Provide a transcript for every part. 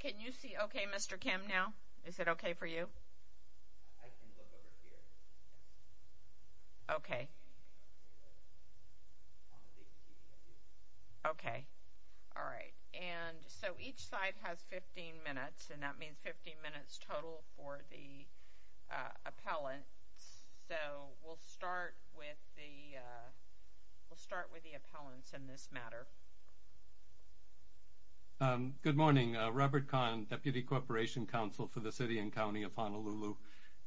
Can you see okay Mr. Kim now? Is it okay for you? I can look over here. Okay. Okay. Alright. And so each side has 15 minutes. And that means 15 minutes total for the appellants. So we'll start with the we'll start with the appellants in this matter. Good morning. Robert Kahn, Deputy Corporation Counsel for the City and County of Honolulu.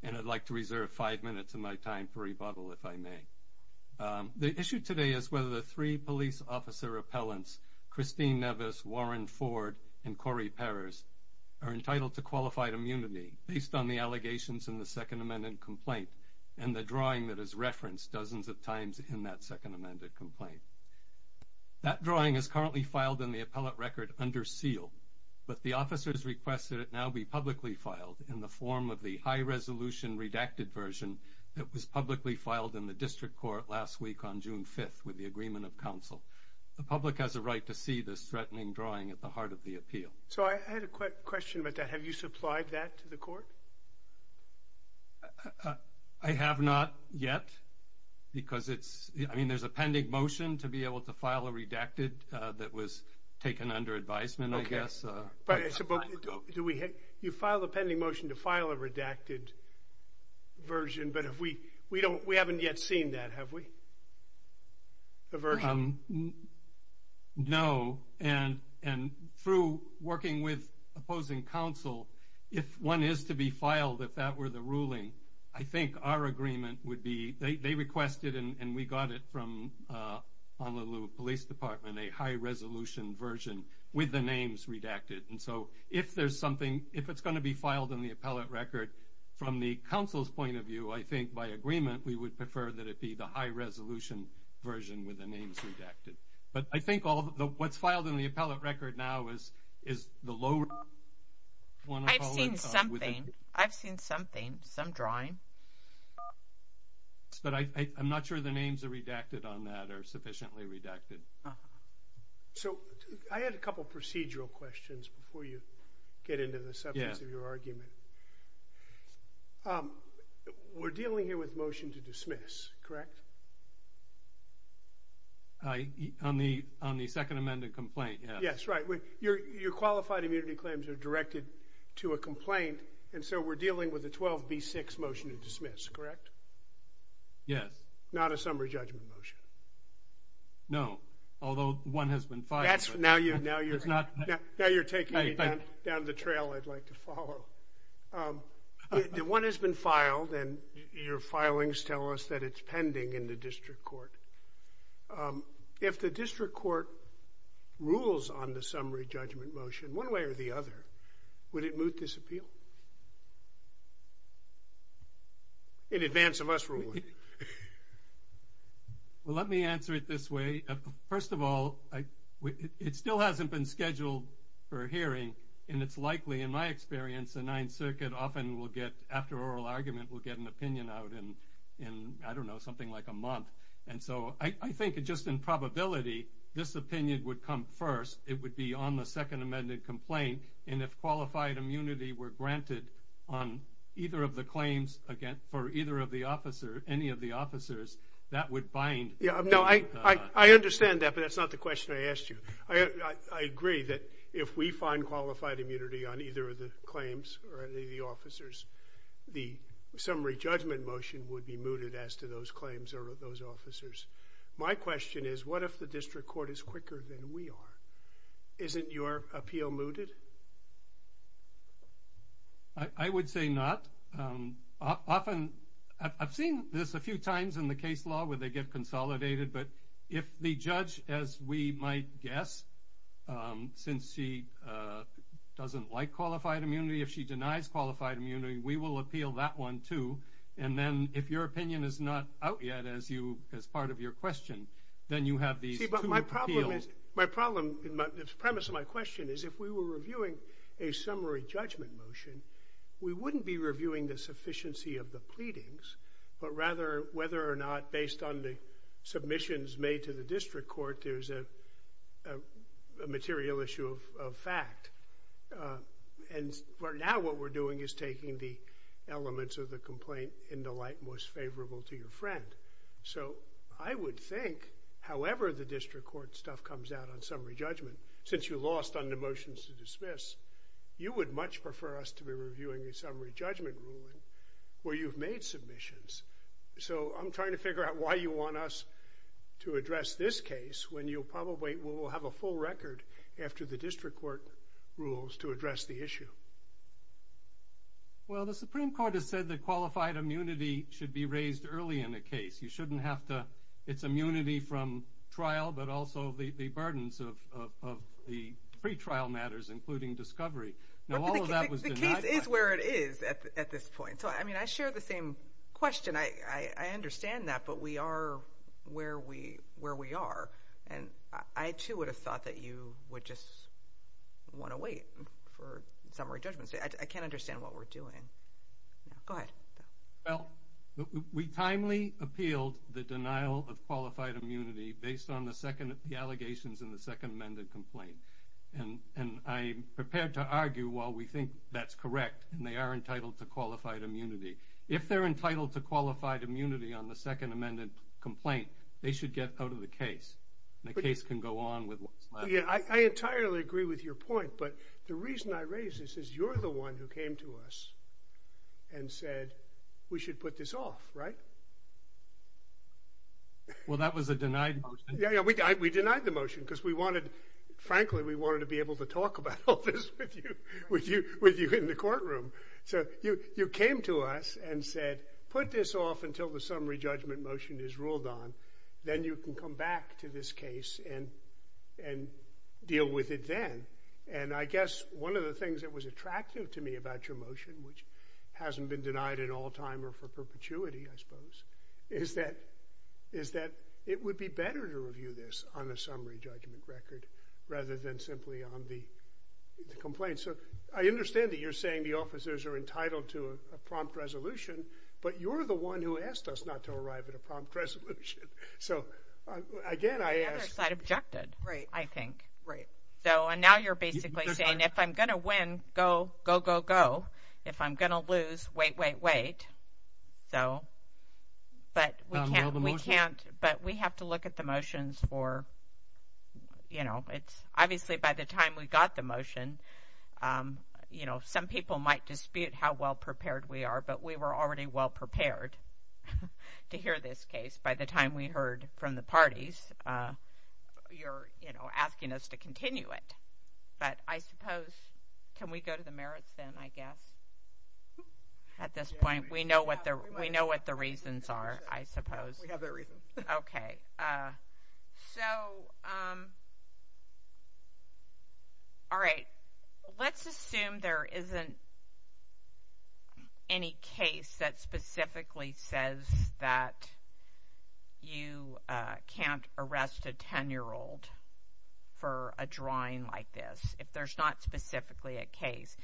And I'd like to reserve five minutes of my time for rebuttal if I may. The issue today is whether the three police officer appellants, Christine Nevis, Warren Ford, and Corey Peres, are entitled to qualified immunity based on the allegations in the Second Amendment complaint and the drawing that is referenced dozens of times in that Second Amendment complaint. That drawing is currently filed in the appellate record under seal, but the officers requested it now be publicly filed in the form of the high resolution redacted version that was publicly filed in the district court last week on June 5th with the agreement of council. The public has a right to see this threatening drawing at the heart of the appeal. So I had a quick question about that. Have you supplied that to the court? I have not yet because there's a pending motion to be able to file a redacted that was taken under advisement, I guess. You filed a pending motion to file a redacted version, but we haven't yet seen that, have we? No. And through working with opposing counsel, if one is to be filed, if that were the ruling, I think our agreement would be, they requested and we got it from Honolulu Police Department, a high resolution version with the names redacted. And so if there's something, if it's going to be filed in the appellate record, from the counsel's point of view, I think by agreement we would prefer that it be the high resolution version with the names redacted. But I think what's filed in the appellate record now is the low... I've seen something. I've seen something. Some drawing. But I'm not sure the names are redacted on that or sufficiently redacted. So I had a couple procedural questions before you get into the substance of your argument. We're dealing here with motion to dismiss, correct? On the second amended complaint, yes. Yes, right. Your qualified immunity claims are directed to a complaint and so we're dealing with a 12B6 motion to dismiss, correct? Yes. Not a summary judgment motion. No, although one has been filed. Now you're taking me down the trail I'd like to follow. One has been filed and your filings tell us that it's pending in the district court. If the district court rules on the summary judgment motion one way or the other, would it moot this appeal? In advance of us ruling. Well, let me answer it this way. First of all, it still hasn't been scheduled for hearing and it's likely, in my experience, the Ninth Circuit often will get, after oral argument, will get an opinion out in, I don't know, something like a month. And so I think just in probability, this opinion would come first. It would be on the second amended complaint and if qualified immunity were granted on either of the claims for either of the officers, any of the officers, that would bind. I understand that, but that's not the question I asked you. I agree that if we find qualified immunity on either of the claims or any of the officers, the summary judgment motion would be mooted as to whether those claims are of those officers. My question is, what if the district court is quicker than we are? Isn't your appeal mooted? I would say not. Often, I've seen this a few times in the case law where they get consolidated, but if the judge, as we might guess, since she doesn't like qualified immunity, if she denies qualified immunity, we will appeal that one too. And then if your opinion is not out yet as part of your question, then you have these two appeals. The premise of my question is, if we were reviewing a summary judgment motion, we wouldn't be reviewing the sufficiency of the pleadings, but rather whether or not, based on the submissions made to the district court, there's a material issue of fact. And now what we're doing is taking the elements of the complaint into light most favorable to your friend. So I would think, however the district court stuff comes out on summary judgment, since you lost on the motions to dismiss, you would much prefer us to be reviewing a summary judgment ruling where you've made submissions. So I'm trying to figure out why you want us to address this case when you probably will have a full record after the district court rules to address the issue. Well, the Supreme Court has said that qualified immunity should be raised early in a case. You shouldn't have to, it's immunity from trial, but also the burdens of the pre-trial matters, including discovery. Now all of that was denied. The case is where it is at this point. So I mean, I share the same question. I understand that, but we are where we are. And I too would have thought that you would just want to wait for summary judgments. I can't understand what we're doing. Go ahead. Well, we timely appealed the denial of qualified immunity based on the allegations in the second amended complaint. And I am prepared to argue while we think that's correct, and they are entitled to qualified immunity. If they're entitled to qualified immunity on the second amended complaint, they should get out of the case. The case can go on I entirely agree with your point, but the reason I raise this is you're the one who came to us and said we should put this off, right? Well, that was a denied motion. Yeah, we denied the motion because we wanted frankly, we wanted to be able to talk about all this with you in the courtroom. So you came to us and said put this off until the summary judgment motion is ruled on. Then you can come back to this case and deal with it then. And I guess one of the things that was attractive to me about your motion, which hasn't been denied in all time or for perpetuity, I suppose, is that it would be better to review this on a summary judgment record rather than simply on the complaint. So I understand that you're saying the officers are entitled to a prompt resolution, but you're the one who asked us not to arrive at a prompt resolution. The other side objected, I think. And now you're basically saying if I'm going to win, go, go, go, go. If I'm going to lose, wait, wait, wait. But we have to look at the motions for, you know, it's obviously by the time we got the motion, you know, some people might dispute how well prepared we are, but we were already well prepared to hear this case by the time we heard from the parties. You're, you know, asking us to continue it. But I suppose, can we go to the merits then, I guess? At this point, we know what the reasons are, I suppose. We have our reasons. Okay. So, all right. Let's assume there isn't any case that specifically says that you can't arrest a 10-year-old for a drawing like this, if there's not specifically a case.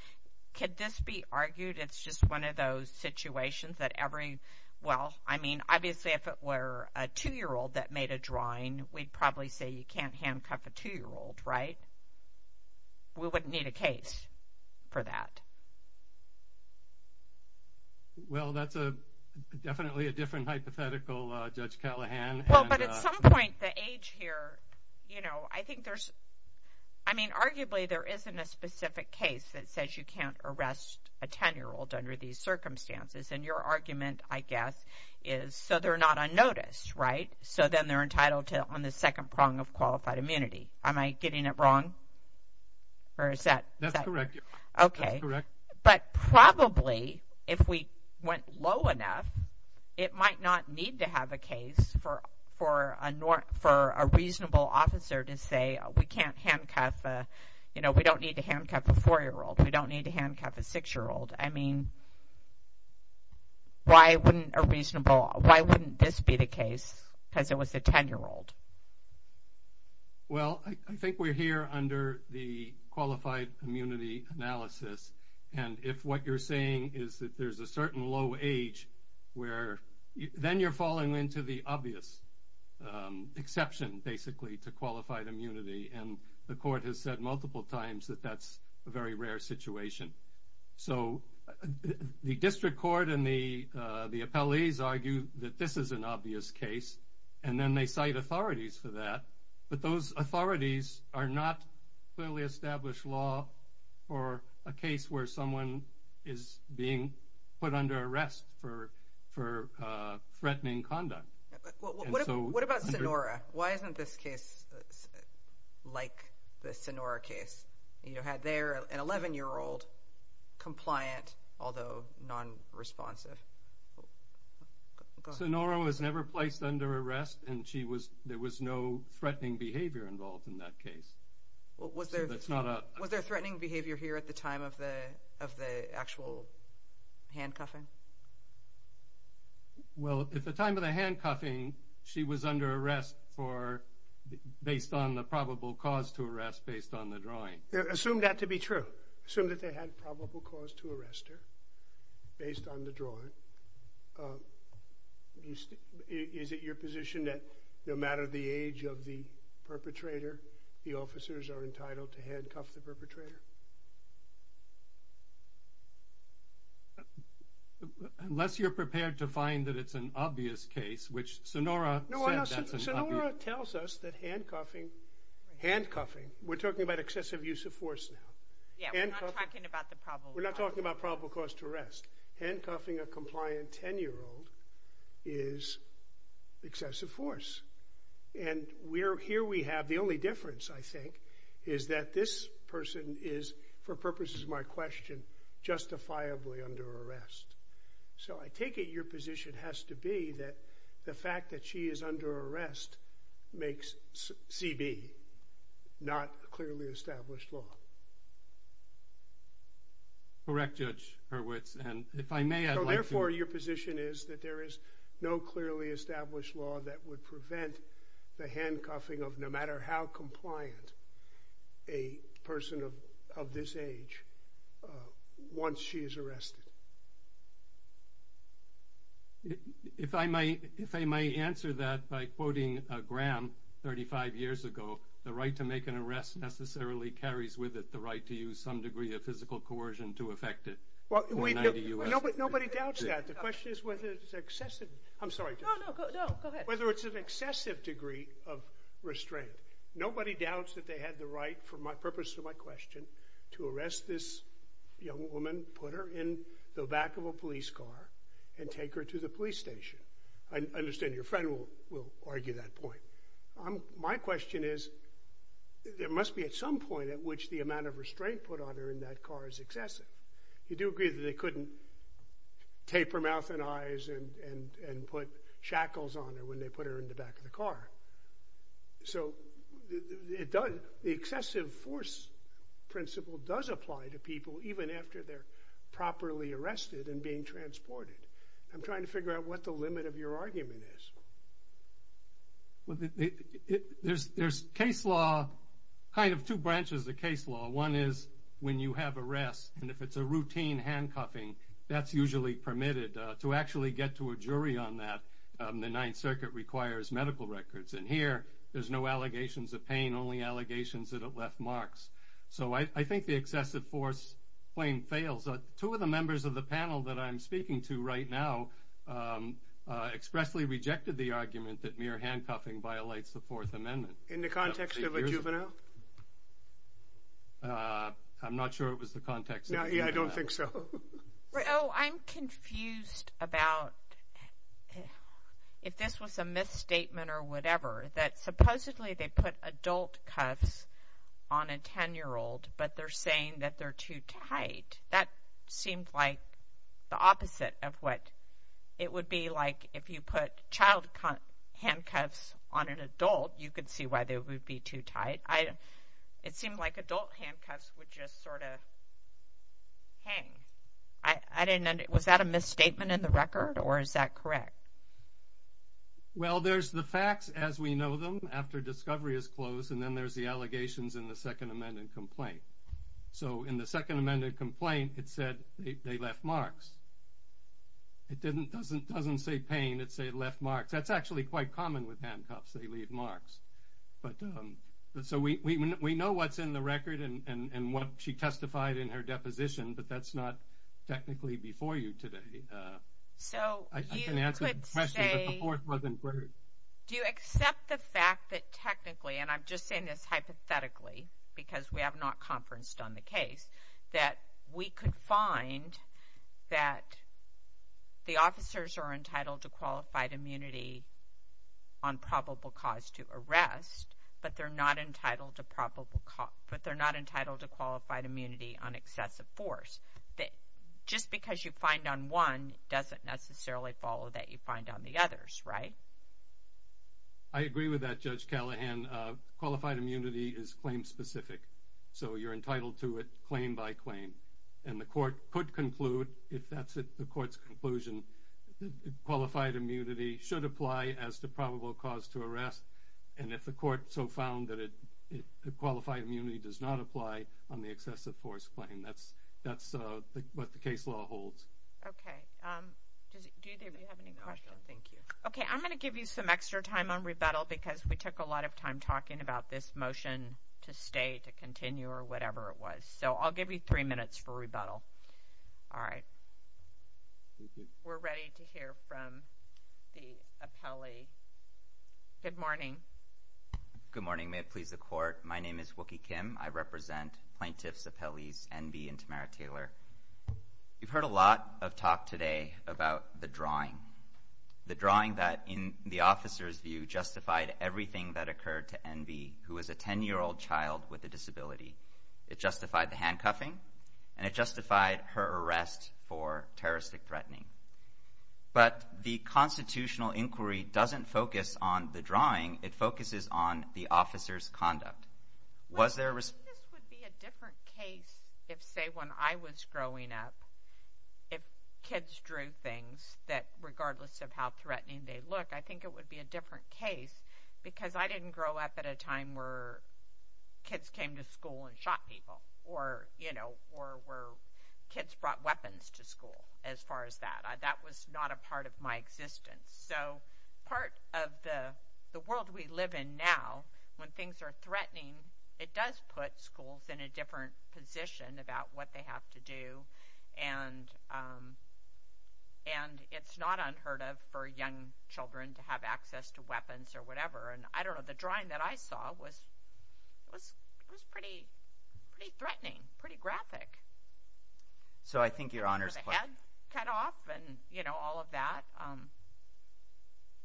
Could this be argued it's just one of those situations that every, well, I mean, obviously if it were a 2-year-old that made a drawing, we'd probably say you can't handcuff a 2-year-old, right? We wouldn't need a case for that. Well, that's definitely a different hypothetical, Judge Callahan. Well, but at some point, the age here, you know, I think there's I mean, arguably there isn't a specific case that says you can't arrest a 10-year-old under these circumstances. And your argument, I guess, is so they're not unnoticed, right? So then they're entitled to on the second prong of qualified immunity. Am I getting it wrong? That's correct. But probably, if we went low enough, it might not need to have a case for a reasonable officer to say we can't handcuff, you know, we don't need to handcuff a 4-year-old, we don't need to handcuff a 6-year-old. I mean, why wouldn't a reasonable, why wouldn't this be the case because it was a 10-year-old? Well, I think we're here under the qualified immunity analysis. And if what you're saying is that there's a certain low age where, then you're falling into the obvious exception, basically, to qualified immunity. And the court has said multiple times that that's a very rare situation. So, the District Court and the appellees argue that this is an obvious case. And then they cite authorities for that. But those authorities are not clearly established law for a case where someone is being put under arrest for threatening conduct. What about Sonora? Why isn't this case like the Sonora case? You had there an 11-year-old compliant, although non-responsive. Sonora was never placed under arrest and there was no threatening behavior involved in that case. Was there threatening behavior here at the time of the actual handcuffing? Well, at the time of the handcuffing, she was under arrest for based on the probable cause to arrest based on the drawing. Assume that to be true. Assume that they had probable cause to arrest her based on the drawing. Is it your position that no matter the age of the perpetrator, the officers are entitled to handcuff the perpetrator? Unless you're prepared to find that it's an obvious case, which Sonora said that's an obvious case. Sonora tells us that handcuffing, we're talking about excessive use of force now, we're not talking about probable cause to arrest. Handcuffing a compliant 10-year-old is excessive force. And here we have the only difference, I think, is that this person is, for purposes of my question, justifiably under arrest. So I take it your position has to be that the fact that she is under arrest makes CB not clearly established law. Correct, Judge Hurwitz. Therefore, your position is that there is no clearly established law that would prevent the handcuffing of no matter how compliant a person of this age once she is arrested. If I may answer that by quoting Graham 35 years ago, the right to make an arrest necessarily carries with it the right to use some degree of physical coercion to affect it. Nobody doubts that. The question is whether it's an excessive degree of restraint. Nobody doubts that they had the right, for purposes of my question, to arrest this young woman, put her in the back of a police car, and take her to the police station. I understand your friend will argue that point. My question is, there must be at some point at which the amount of restraint put on her in that car is excessive. You do agree that they couldn't tape her mouth and eyes and put shackles on her when they put her in the back of the car. So the excessive force principle does apply to people even after they're properly arrested and being transported. I'm trying to figure out what the limit of your argument is. There's case law kind of two branches of case law. One is when you have arrest, and if it's a routine handcuffing, that's usually permitted. To actually get to a jury on that, the Ninth Circuit requires medical records. And here, there's no allegations of pain, only allegations that it left marks. So I think the excessive force claim fails. Two of the members of the panel that I'm speaking to right now expressly rejected the argument that mere handcuffing violates the Fourth Amendment. In the context of a juvenile? I'm not sure it was the context of a juvenile. Yeah, I don't think so. I'm confused about if this was a misstatement or whatever, that supposedly they put adult cuffs on a 10-year-old, but they're saying that they're too tight. That seemed like the opposite of what it would be like if you put child handcuffs on an adult. You could see why they would be too tight. It seemed like adult handcuffs would just sort of hang. Was that a misstatement in the record, or is that correct? Well, there's the facts as we know them after discovery is closed, and then there's the allegations in the Second Amendment complaint. So in the Second Amendment complaint, it said they left marks. It doesn't say pain. It said left marks. That's actually quite common with handcuffs. They leave marks. So we know what's in the record and what she testified in her deposition, but that's not technically before you today. I can answer the question, but the Fourth wasn't heard. Do you accept the fact that technically, and I'm just saying this hypothetically, because we have not conferenced on the case, that we could find that the officers are entitled to qualified immunity on probable cause to arrest, but they're not entitled to qualified immunity on excessive force. Just because you find on one doesn't necessarily follow that you find on the others, right? I agree with that, Judge Callahan. Qualified immunity is claim specific. So you're entitled to it claim by claim, and the court could conclude, if that's the court's conclusion, qualified immunity should apply as to probable cause to arrest, and if the court so found that qualified immunity does not apply on the excessive force claim, that's what the case law holds. Okay. Do either of you have any questions? Okay, I'm going to give you some extra time on rebuttal because we took a lot of time talking about this motion to stay, to continue, or whatever it was. So I'll give you three minutes for rebuttal. All right. We're ready to hear from the appellee. Good morning. Good morning. May it please the court, my name is Wookie Kim. I represent plaintiffs, appellees, Enby, and Tamara Taylor. You've heard a lot of talk today about the drawing. The drawing that, in the officer's view, justified everything that occurred to Enby, who was a 10-year-old child with a disability. It justified the handcuffing, and it justified her arrest for terroristic threatening. But the constitutional inquiry doesn't focus on the drawing, it focuses on the officer's conduct. Was there a... I think this would be a different case if, say, when I was growing up, if kids drew things that, regardless of how threatening they look, I think it would be a different case, because I didn't grow up at a time where kids came to school and shot people, or, you know, where kids brought weapons to school, as far as that. That was not a part of my existence. So part of the world we live in now, when things are threatening, it does put schools in a different position about what they have to do, and it's not unheard of for young children to have access to weapons or whatever. I don't know, the drawing that I saw was pretty threatening, pretty graphic. With a head cut off, and all of that.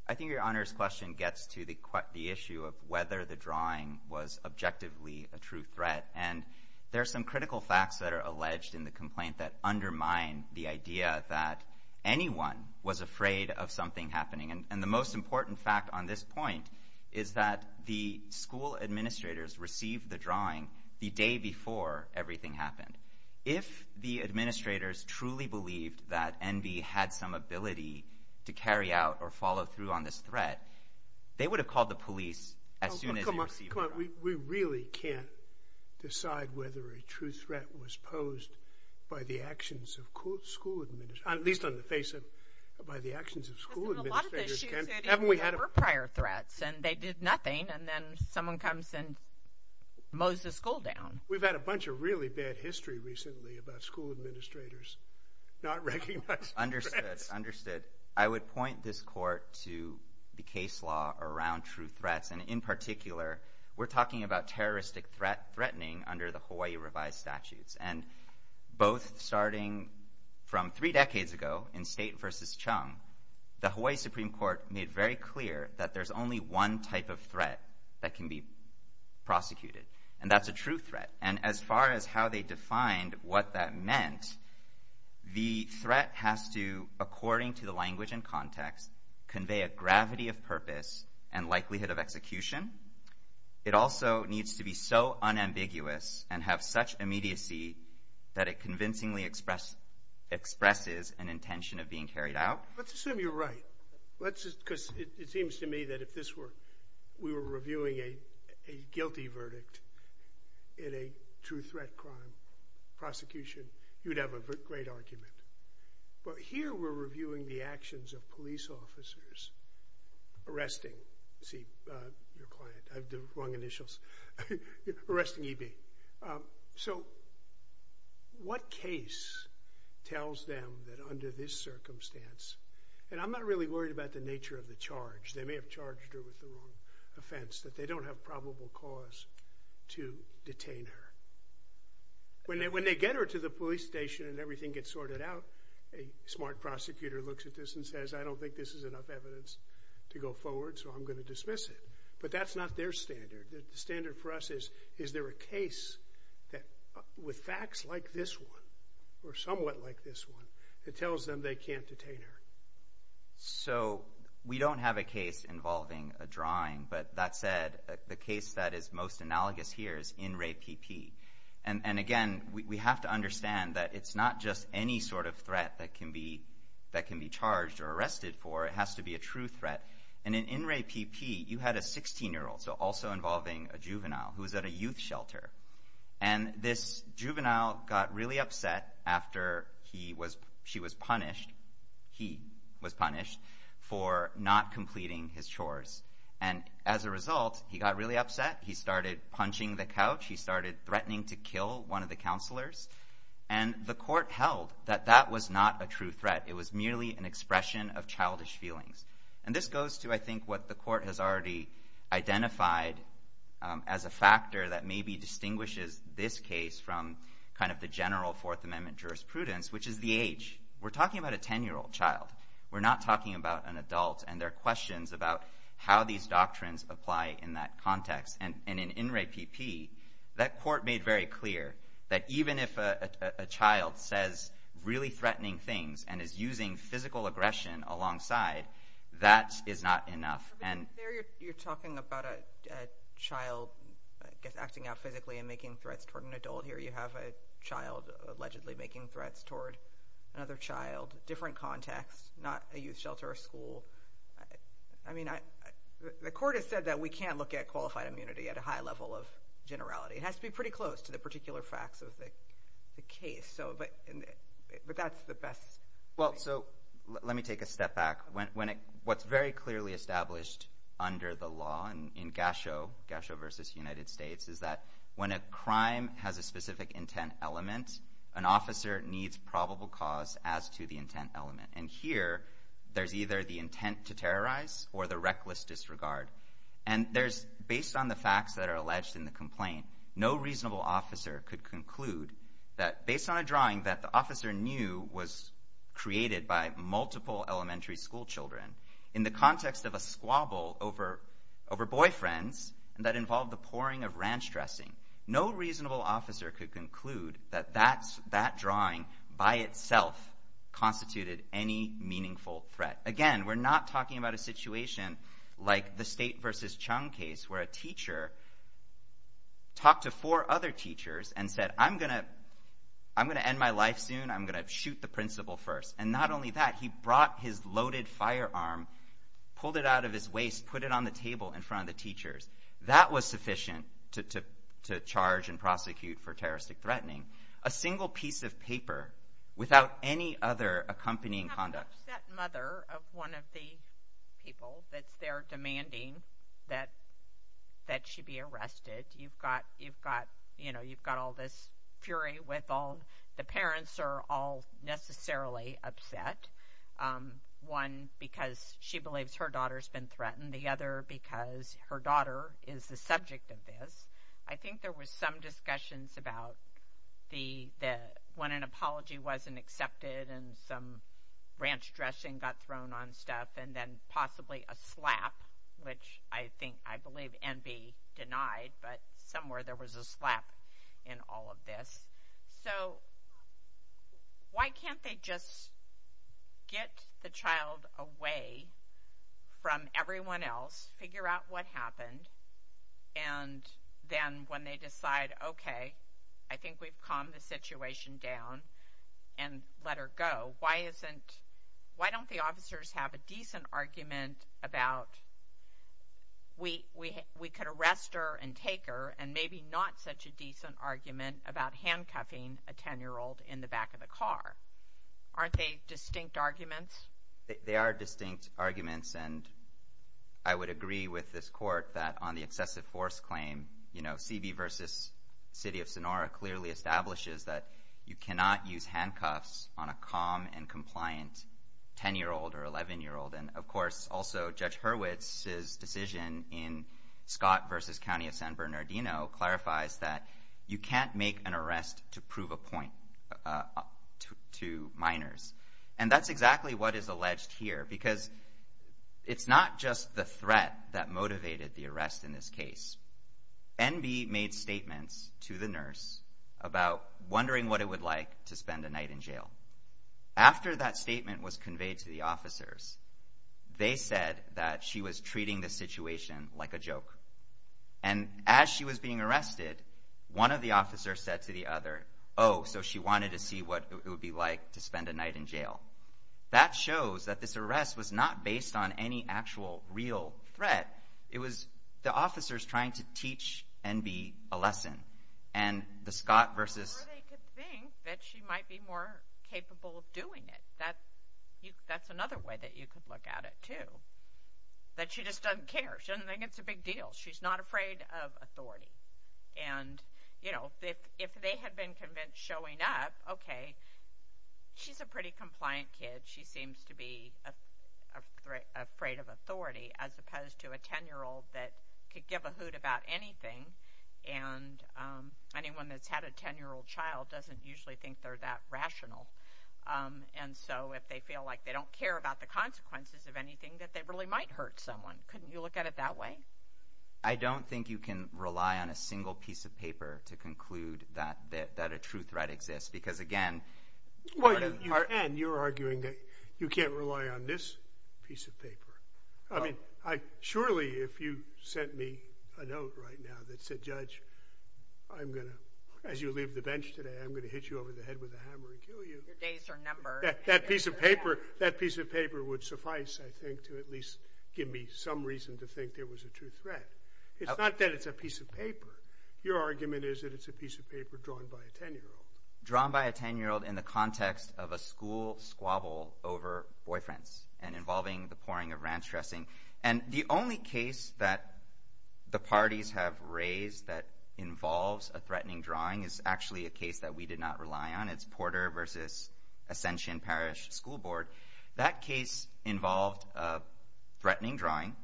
I think your Honor's question gets to the issue of whether the drawing was objectively a true threat, and there are some critical facts that are alleged in the complaint that undermine the idea that anyone was afraid of something happening, and the most important fact on this point is that the school administrators received the drawing the day before everything happened. If the administrators truly believed that Enby had some ability to carry out or follow through on this threat, they would have called the police as soon as they received the drawing. We really can't decide whether a true threat was posed by the actions of school administrators, at least on the face of by the actions of school administrators. They did nothing, and then someone comes and mows the school down. We've had a bunch of really bad history recently about school administrators not recognizing threats. I would point this Court to the case law around true threats, and in particular, we're talking about terroristic threatening under the law, both starting from three decades ago in State versus Chung, the Hawaii Supreme Court made very clear that there's only one type of threat that can be prosecuted, and that's a true threat, and as far as how they defined what that meant, the threat has to, according to the language and context, convey a gravity of purpose and likelihood of execution. It also needs to be so unambiguous and have such immediacy that it convincingly expresses an intention of being carried out. Let's assume you're right. It seems to me that if we were reviewing a guilty verdict in a true threat crime prosecution, you'd have a great argument, but here we're reviewing the actions of police officers arresting EB. Okay, so what case tells them that under this circumstance, and I'm not really worried about the nature of the charge, they may have charged her with the wrong offense, that they don't have probable cause to detain her. When they get her to the police station and everything gets sorted out, a smart prosecutor looks at this and says, I don't think this is enough evidence to go forward, so I'm going to dismiss it, but that's not their standard. The standard for us is, is there a case with facts like this one, or somewhat like this one, that tells them they can't detain her? So, we don't have a case involving a drawing, but that said, the case that is most analogous here is In Re P.P. And again, we have to understand that it's not just any sort of threat that can be charged or arrested for, it has to be a true And this juvenile got really upset after she was punished, he was punished, for not completing his chores. And as a result, he got really upset, he started punching the couch, he started threatening to kill one of the counselors, and the court held that that was not a true threat, it was merely an expression of childish feelings. And this goes to, I think, what the court has already identified as a factor that maybe distinguishes this case from kind of the general Fourth Amendment jurisprudence, which is the age. We're talking about a 10-year-old child. We're not talking about an adult, and there are questions about how these doctrines apply in that context. And in In Re P.P., that court made very clear that even if a child says really threatening things, and is using physical aggression alongside, that is not enough. There you're talking about a child acting out physically and making threats toward an adult. Here you have a child allegedly making threats toward another child, different context, not a youth shelter or school. The court has said that we can't look at qualified immunity at a high level of generality. It has to be pretty close to the particular facts of the case. But that's the best way. Well, so let me take a step back. What's very clearly established under the law in Gasho, Gasho v. United States, is that when a crime has a specific intent element, an officer needs probable cause as to the intent element. And here, there's either the intent to terrorize or the reckless disregard. And based on the facts that are alleged in the complaint, no reasonable officer knew was created by multiple elementary school children in the context of a squabble over boyfriends that involved the pouring of ranch dressing. No reasonable officer could conclude that that drawing by itself constituted any meaningful threat. Again, we're not talking about a situation like the State v. Chung case, where a teacher talked to four other teachers and said, I'm going to end my life soon. I'm going to shoot the principal first. And not only that, he brought his loaded firearm, pulled it out of his waist, put it on the table in front of the teachers. That was sufficient to charge and prosecute for terroristic threatening. A single piece of paper without any other accompanying conduct. You have an upset mother of one of the people that's there demanding that she be arrested. You've got all this fury. The parents are all necessarily upset. One, because she believes her daughter's been threatened. The other, because her daughter is the subject of this. I think there was some discussions about when an apology wasn't accepted and some ranch dressing got thrown on stuff, and then possibly a slap, which I think, I believe, can be denied, but somewhere there was a slap in all of this. So why can't they just get the child away from everyone else, figure out what happened, and then when they decide, okay, I think we've calmed the situation down and let her go, why don't the officers have a decent argument about we could arrest her and take her and maybe not such a decent argument about handcuffing a 10-year-old in the back of the car? Aren't they distinct arguments? They are distinct arguments, and I would agree with this Court that on the excessive force claim, you know, CB versus City of Sonora clearly establishes that you cannot use handcuffs on a calm and compliant 10-year-old or 11-year-old. And, of course, also Judge Hurwitz's decision in Scott versus County of San Bernardino clarifies that you can't make an arrest to prove a point to minors. And that's exactly what is alleged here, because it's not just the threat that motivated the arrest in this case. NB made statements to the nurse about wondering what it would like to spend a night in jail. After that statement was conveyed to the officers, they said that she was treating the situation like a joke. And as she was being arrested, one of the officers said to the other, oh, so she wanted to see what it would be like to spend a night in jail. That shows that this arrest was not based on any actual real threat. It was the officers trying to teach NB a lesson. And the Scott versus... Or they could think that she might be more That's another way that you could look at it, too. That she just doesn't care. She doesn't think it's a big deal. She's not afraid of authority. And, you know, if they had been convinced showing up, okay, she's a pretty compliant kid. She seems to be afraid of authority, as opposed to a 10-year-old that could give a hoot about anything. And anyone that's had a 10-year-old child doesn't usually think they're that rational. And so if they feel like they don't care about the consequences of anything, that they really might hurt someone. Couldn't you look at it that way? I don't think you can rely on a single piece of paper to conclude that a true threat exists. Because, again... And you're arguing that you can't rely on this piece of paper. I mean, surely if you sent me a note right now that said, Judge, I'm going to... As you leave the bench today, I'm going to hit you over the head with a hammer and kill you. Your days are numbered. That piece of paper would suffice, I think, to at least give me some reason to think there was a true threat. It's not that it's a piece of paper. Your argument is that it's a piece of paper drawn by a 10-year-old. Drawn by a 10-year-old in the context of a school squabble over boyfriends. And involving the pouring of ranch dressing. And the only case that the parties have raised that involves a threatening drawing is actually a case that we did not rely on. It's Porter versus Ascension Parish School Board. That case involved a threatening drawing.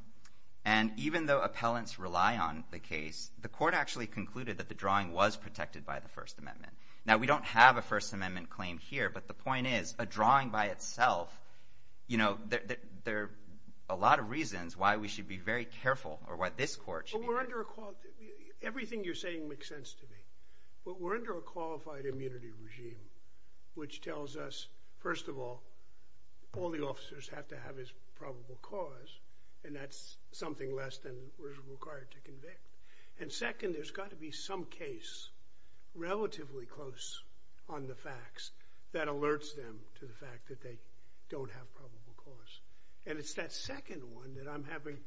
And even though appellants rely on the case, the court actually concluded that the drawing was protected by the First Amendment. Now, we don't have a First Amendment claim here, but the point is a drawing by itself, you know, there are a lot of reasons why we should be very careful, or why this court should be... Everything you're saying makes sense to me. We're under a qualified immunity regime, which tells us, first of all, all the officers have to have is probable cause, and that's something less than is required to convict. And second, there's got to be some case, relatively close on the facts, that alerts them to the fact that they don't have probable cause. And it's that second one that I'm having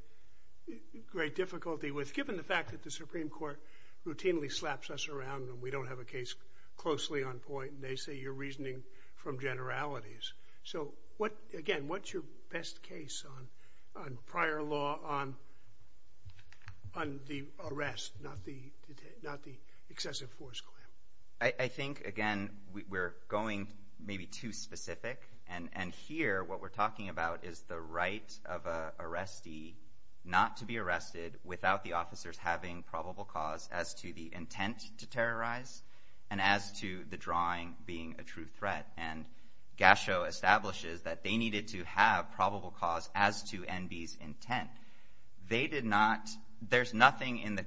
great difficulty with, given the fact that the Supreme Court routinely slaps us around, and we don't have a case closely on point, and they say you're reasoning from generalities. So, again, what's your best case on prior law on the arrest, not the excessive force claim? I think, again, we're going maybe too specific, and here, what we're talking about is the right of an arrestee not to be arrested without the officers having probable cause as to the intent to terrorize, and as to the drawing being a true threat. And Gasho establishes that they needed to have probable cause as to Enby's intent. They did not... There's nothing in the...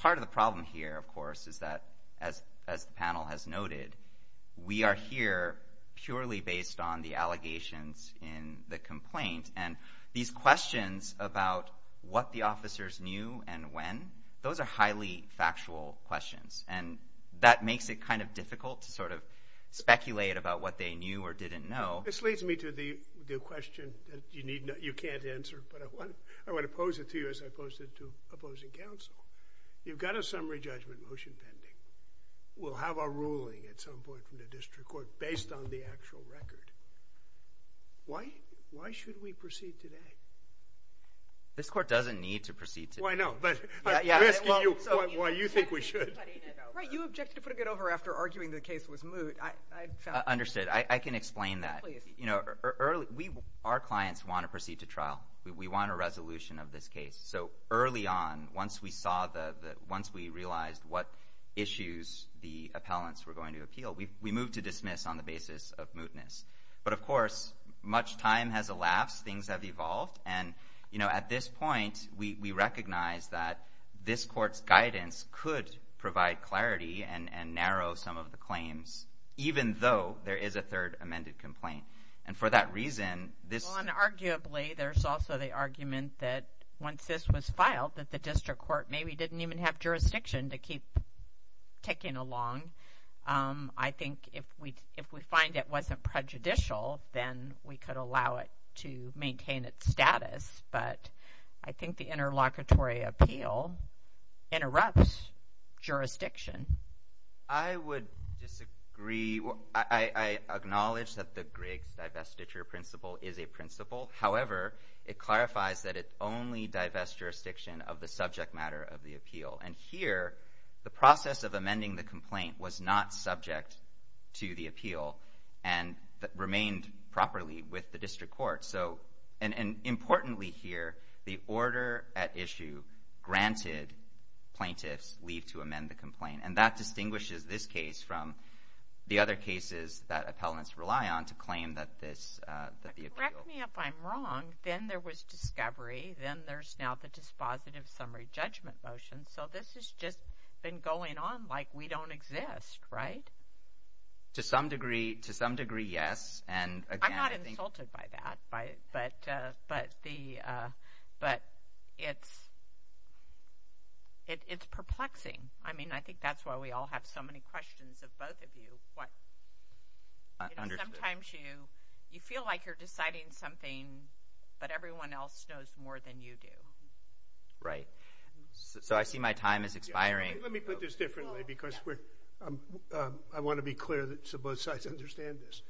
Part of the problem here, of course, is that, as the panel has noted, we are here purely based on the allegations in the complaint, and these questions about what the officers knew and when, those are highly factual questions, and that makes it kind of difficult to sort of speculate about what they knew or didn't know. This leads me to the question that you can't answer, but I want to pose it to you as I posed it to opposing counsel. You've got a summary judgment motion pending. We'll have our ruling at some point from the district court based on the motion. Why should we proceed today? This court doesn't need to proceed today. You objected to putting it over after arguing the case was moot. Understood. I can explain that. Our clients want to proceed to trial. We want a resolution of this case. Early on, once we realized what issues the appellants were going to appeal, we moved to dismiss on the basis of mootness. But of course, much time has elapsed. Things have evolved, and at this point, we recognize that this court's guidance could provide clarity and narrow some of the claims, even though there is a third amended complaint. And for that reason, this... Well, and arguably, there's also the argument that once this was filed, that the district court maybe didn't even have jurisdiction to keep ticking along. I think if we find it wasn't prejudicial, then we could allow it to maintain its status. But I think the interlocutory appeal interrupts jurisdiction. I would disagree. I acknowledge that the Griggs divestiture principle is a principle. However, it clarifies that it only divests jurisdiction of the subject matter of the appeal. And here, the process of amending the complaint was not subject to the appeal and remained properly with the district court. And importantly here, the order at issue granted plaintiffs leave to amend the complaint. And that distinguishes this case from the other cases that appellants rely on to claim that the appeal... Correct me if I'm wrong. Then there was discovery. Then there's now the dispositive summary judgment motion. So this has just been going on like we don't exist, right? To some degree, yes. I'm not insulted by that. But it's perplexing. I think that's why we all have so many questions of both of you. Sometimes you feel like you're deciding something, but everyone else knows more than you do. Right. So I see my time is expiring. Let me put this differently because I want to be clear that both sides understand this.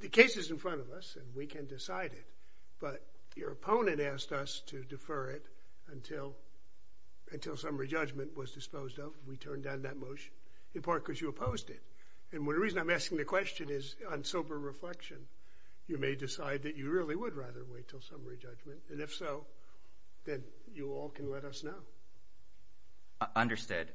The case is in front of us and we can decide it, but your opponent asked us to defer it until summary judgment was disposed of. We turned down that motion, in part because you opposed it. And the reason I'm asking the question is on sober reflection, you may decide that you really would rather wait until summary judgment. And if so, then you all can let us know. Understood.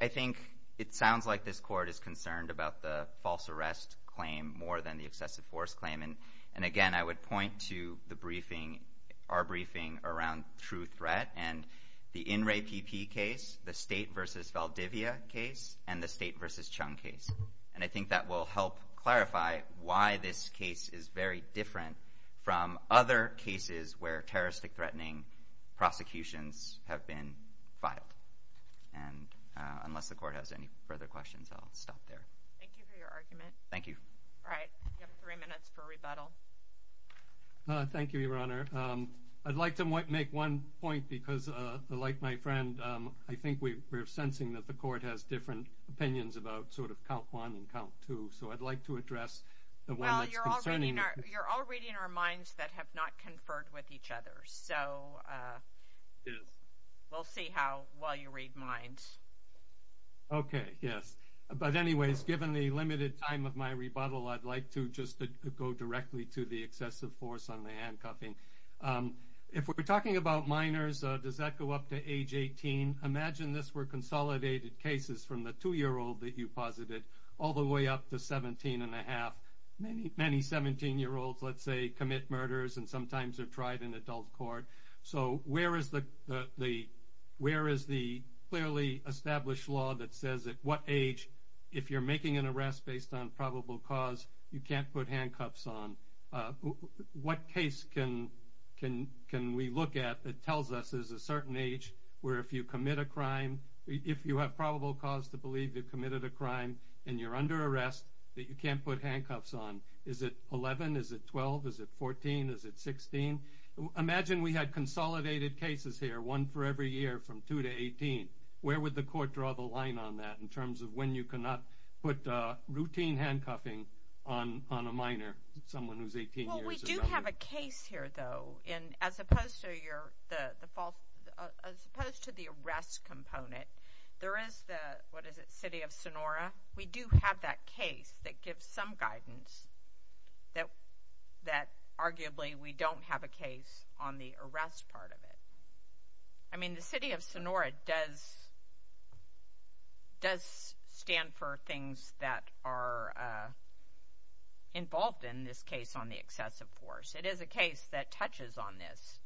I think it sounds like this court is concerned about the false arrest claim more than the excessive force claim. And again, I would point to the briefing, our briefing around true threat and the INREPP case, the State v. Valdivia case, and the State v. Chung case. And I think that will help clarify why this case is very different from other cases where terroristic threatening prosecutions have been filed. And unless the court has any further questions, I'll stop there. Thank you for your argument. Thank you. All right. You have three minutes for rebuttal. Thank you, Your Honor. I'd like to make one point because, like my friend, I think we're sensing that the court has different opinions about sort of count one and count two. So I'd like to address the one that's concerning. Well, you're all reading our minds that have not conferred with each other. So we'll see how while you read minds. Okay. Yes. But anyways, given the limited time of my rebuttal, I'd like to just go directly to the excessive force on the handcuffing. If we're talking about minors, does that go up to age 18? Imagine this were consolidated cases from the 2-year-old that you posited all the way up to 17 and a half. Many 17-year-olds let's say commit murders and sometimes are tried in adult court. So where is the clearly established law that says at what age, if you're making an arrest based on probable cause, you can't put handcuffs on? What case can we look at that tells us there's a certain age where if you commit a crime, if you have probable cause to believe you've committed a crime and you're under arrest, that you can't put handcuffs on? Is it 11? Is it 12? Is it 14? Is it 16? Imagine we had consolidated cases here, one for every year from 2 to 18. Where would the court draw the line on that in terms of when you cannot put routine handcuffing on a minor, someone who's 18 years or younger? Well, we do have a case here though as opposed to the arrest component. There is the City of Sonora. We do have that case that gives some guidance that arguably we don't have a case on the arrest part of it. I mean, the City of Sonora does stand for things that are involved in this case on the excessive force. It is a case that touches on this.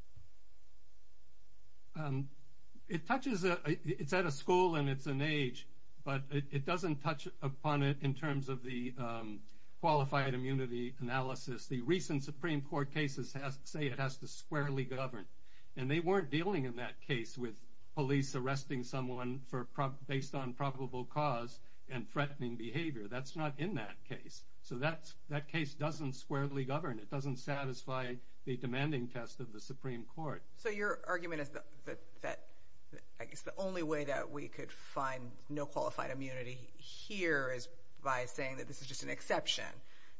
It touches on... It's at a school and it's an age, but it doesn't touch upon it in terms of the qualified immunity analysis. The recent Supreme Court cases say it has to squarely govern. And they weren't dealing in that case with police arresting someone based on probable cause and threatening behavior. That's not in that case. So that case doesn't squarely govern. It doesn't satisfy the demanding test of the Supreme Court. So your argument is that I guess the only way that we could find no qualified immunity here is by saying that this is just an exception.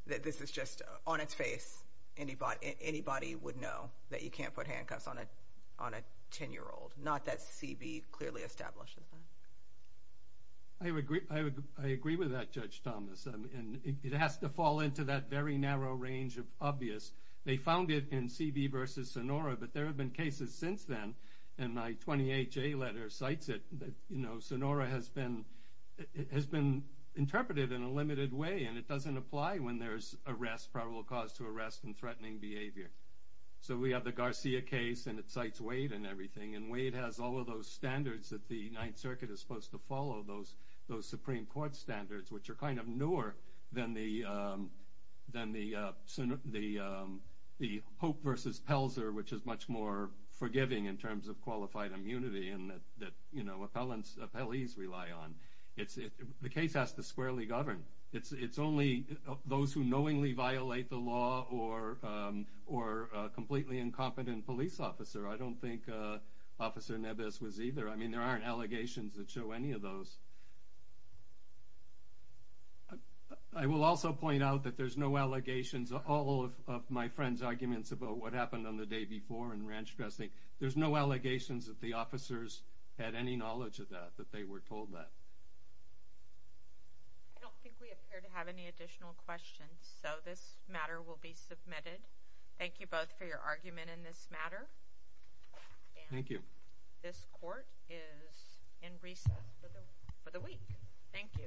That this is just on its face. Anybody would know that you can't put handcuffs on a 10-year-old. Not that CB clearly establishes that. I agree with that, Judge Thomas. It has to fall into that very narrow range of obvious. They found it in CB v. Sonora, but there have been cases since then, and my 28-J letter cites it, that Sonora has been interpreted in a limited way, and it doesn't apply when there's probable cause to arrest and threatening behavior. So we have the Garcia case, and it cites Wade and everything. And Wade has all of those standards that the 9th Circuit is supposed to follow, those Supreme Court standards, which are kind of newer than the Pope v. Pelzer, which is much more forgiving in terms of qualified immunity, and that appellees rely on. The case has to squarely govern. It's only those who knowingly violate the law or a completely incompetent police officer. I don't think Officer Neves was either. I mean, there aren't allegations that show any of those. I will also point out that there's no allegations. All of my friends' arguments about what happened on the day before in Ranch Dressing, there's no allegations that the officers had any knowledge of that, that they were told that. I don't think we appear to have any additional questions, so this matter will be submitted. Thank you both for your argument in this matter. Thank you. This court is in recess for the week. Thank you. Thank you.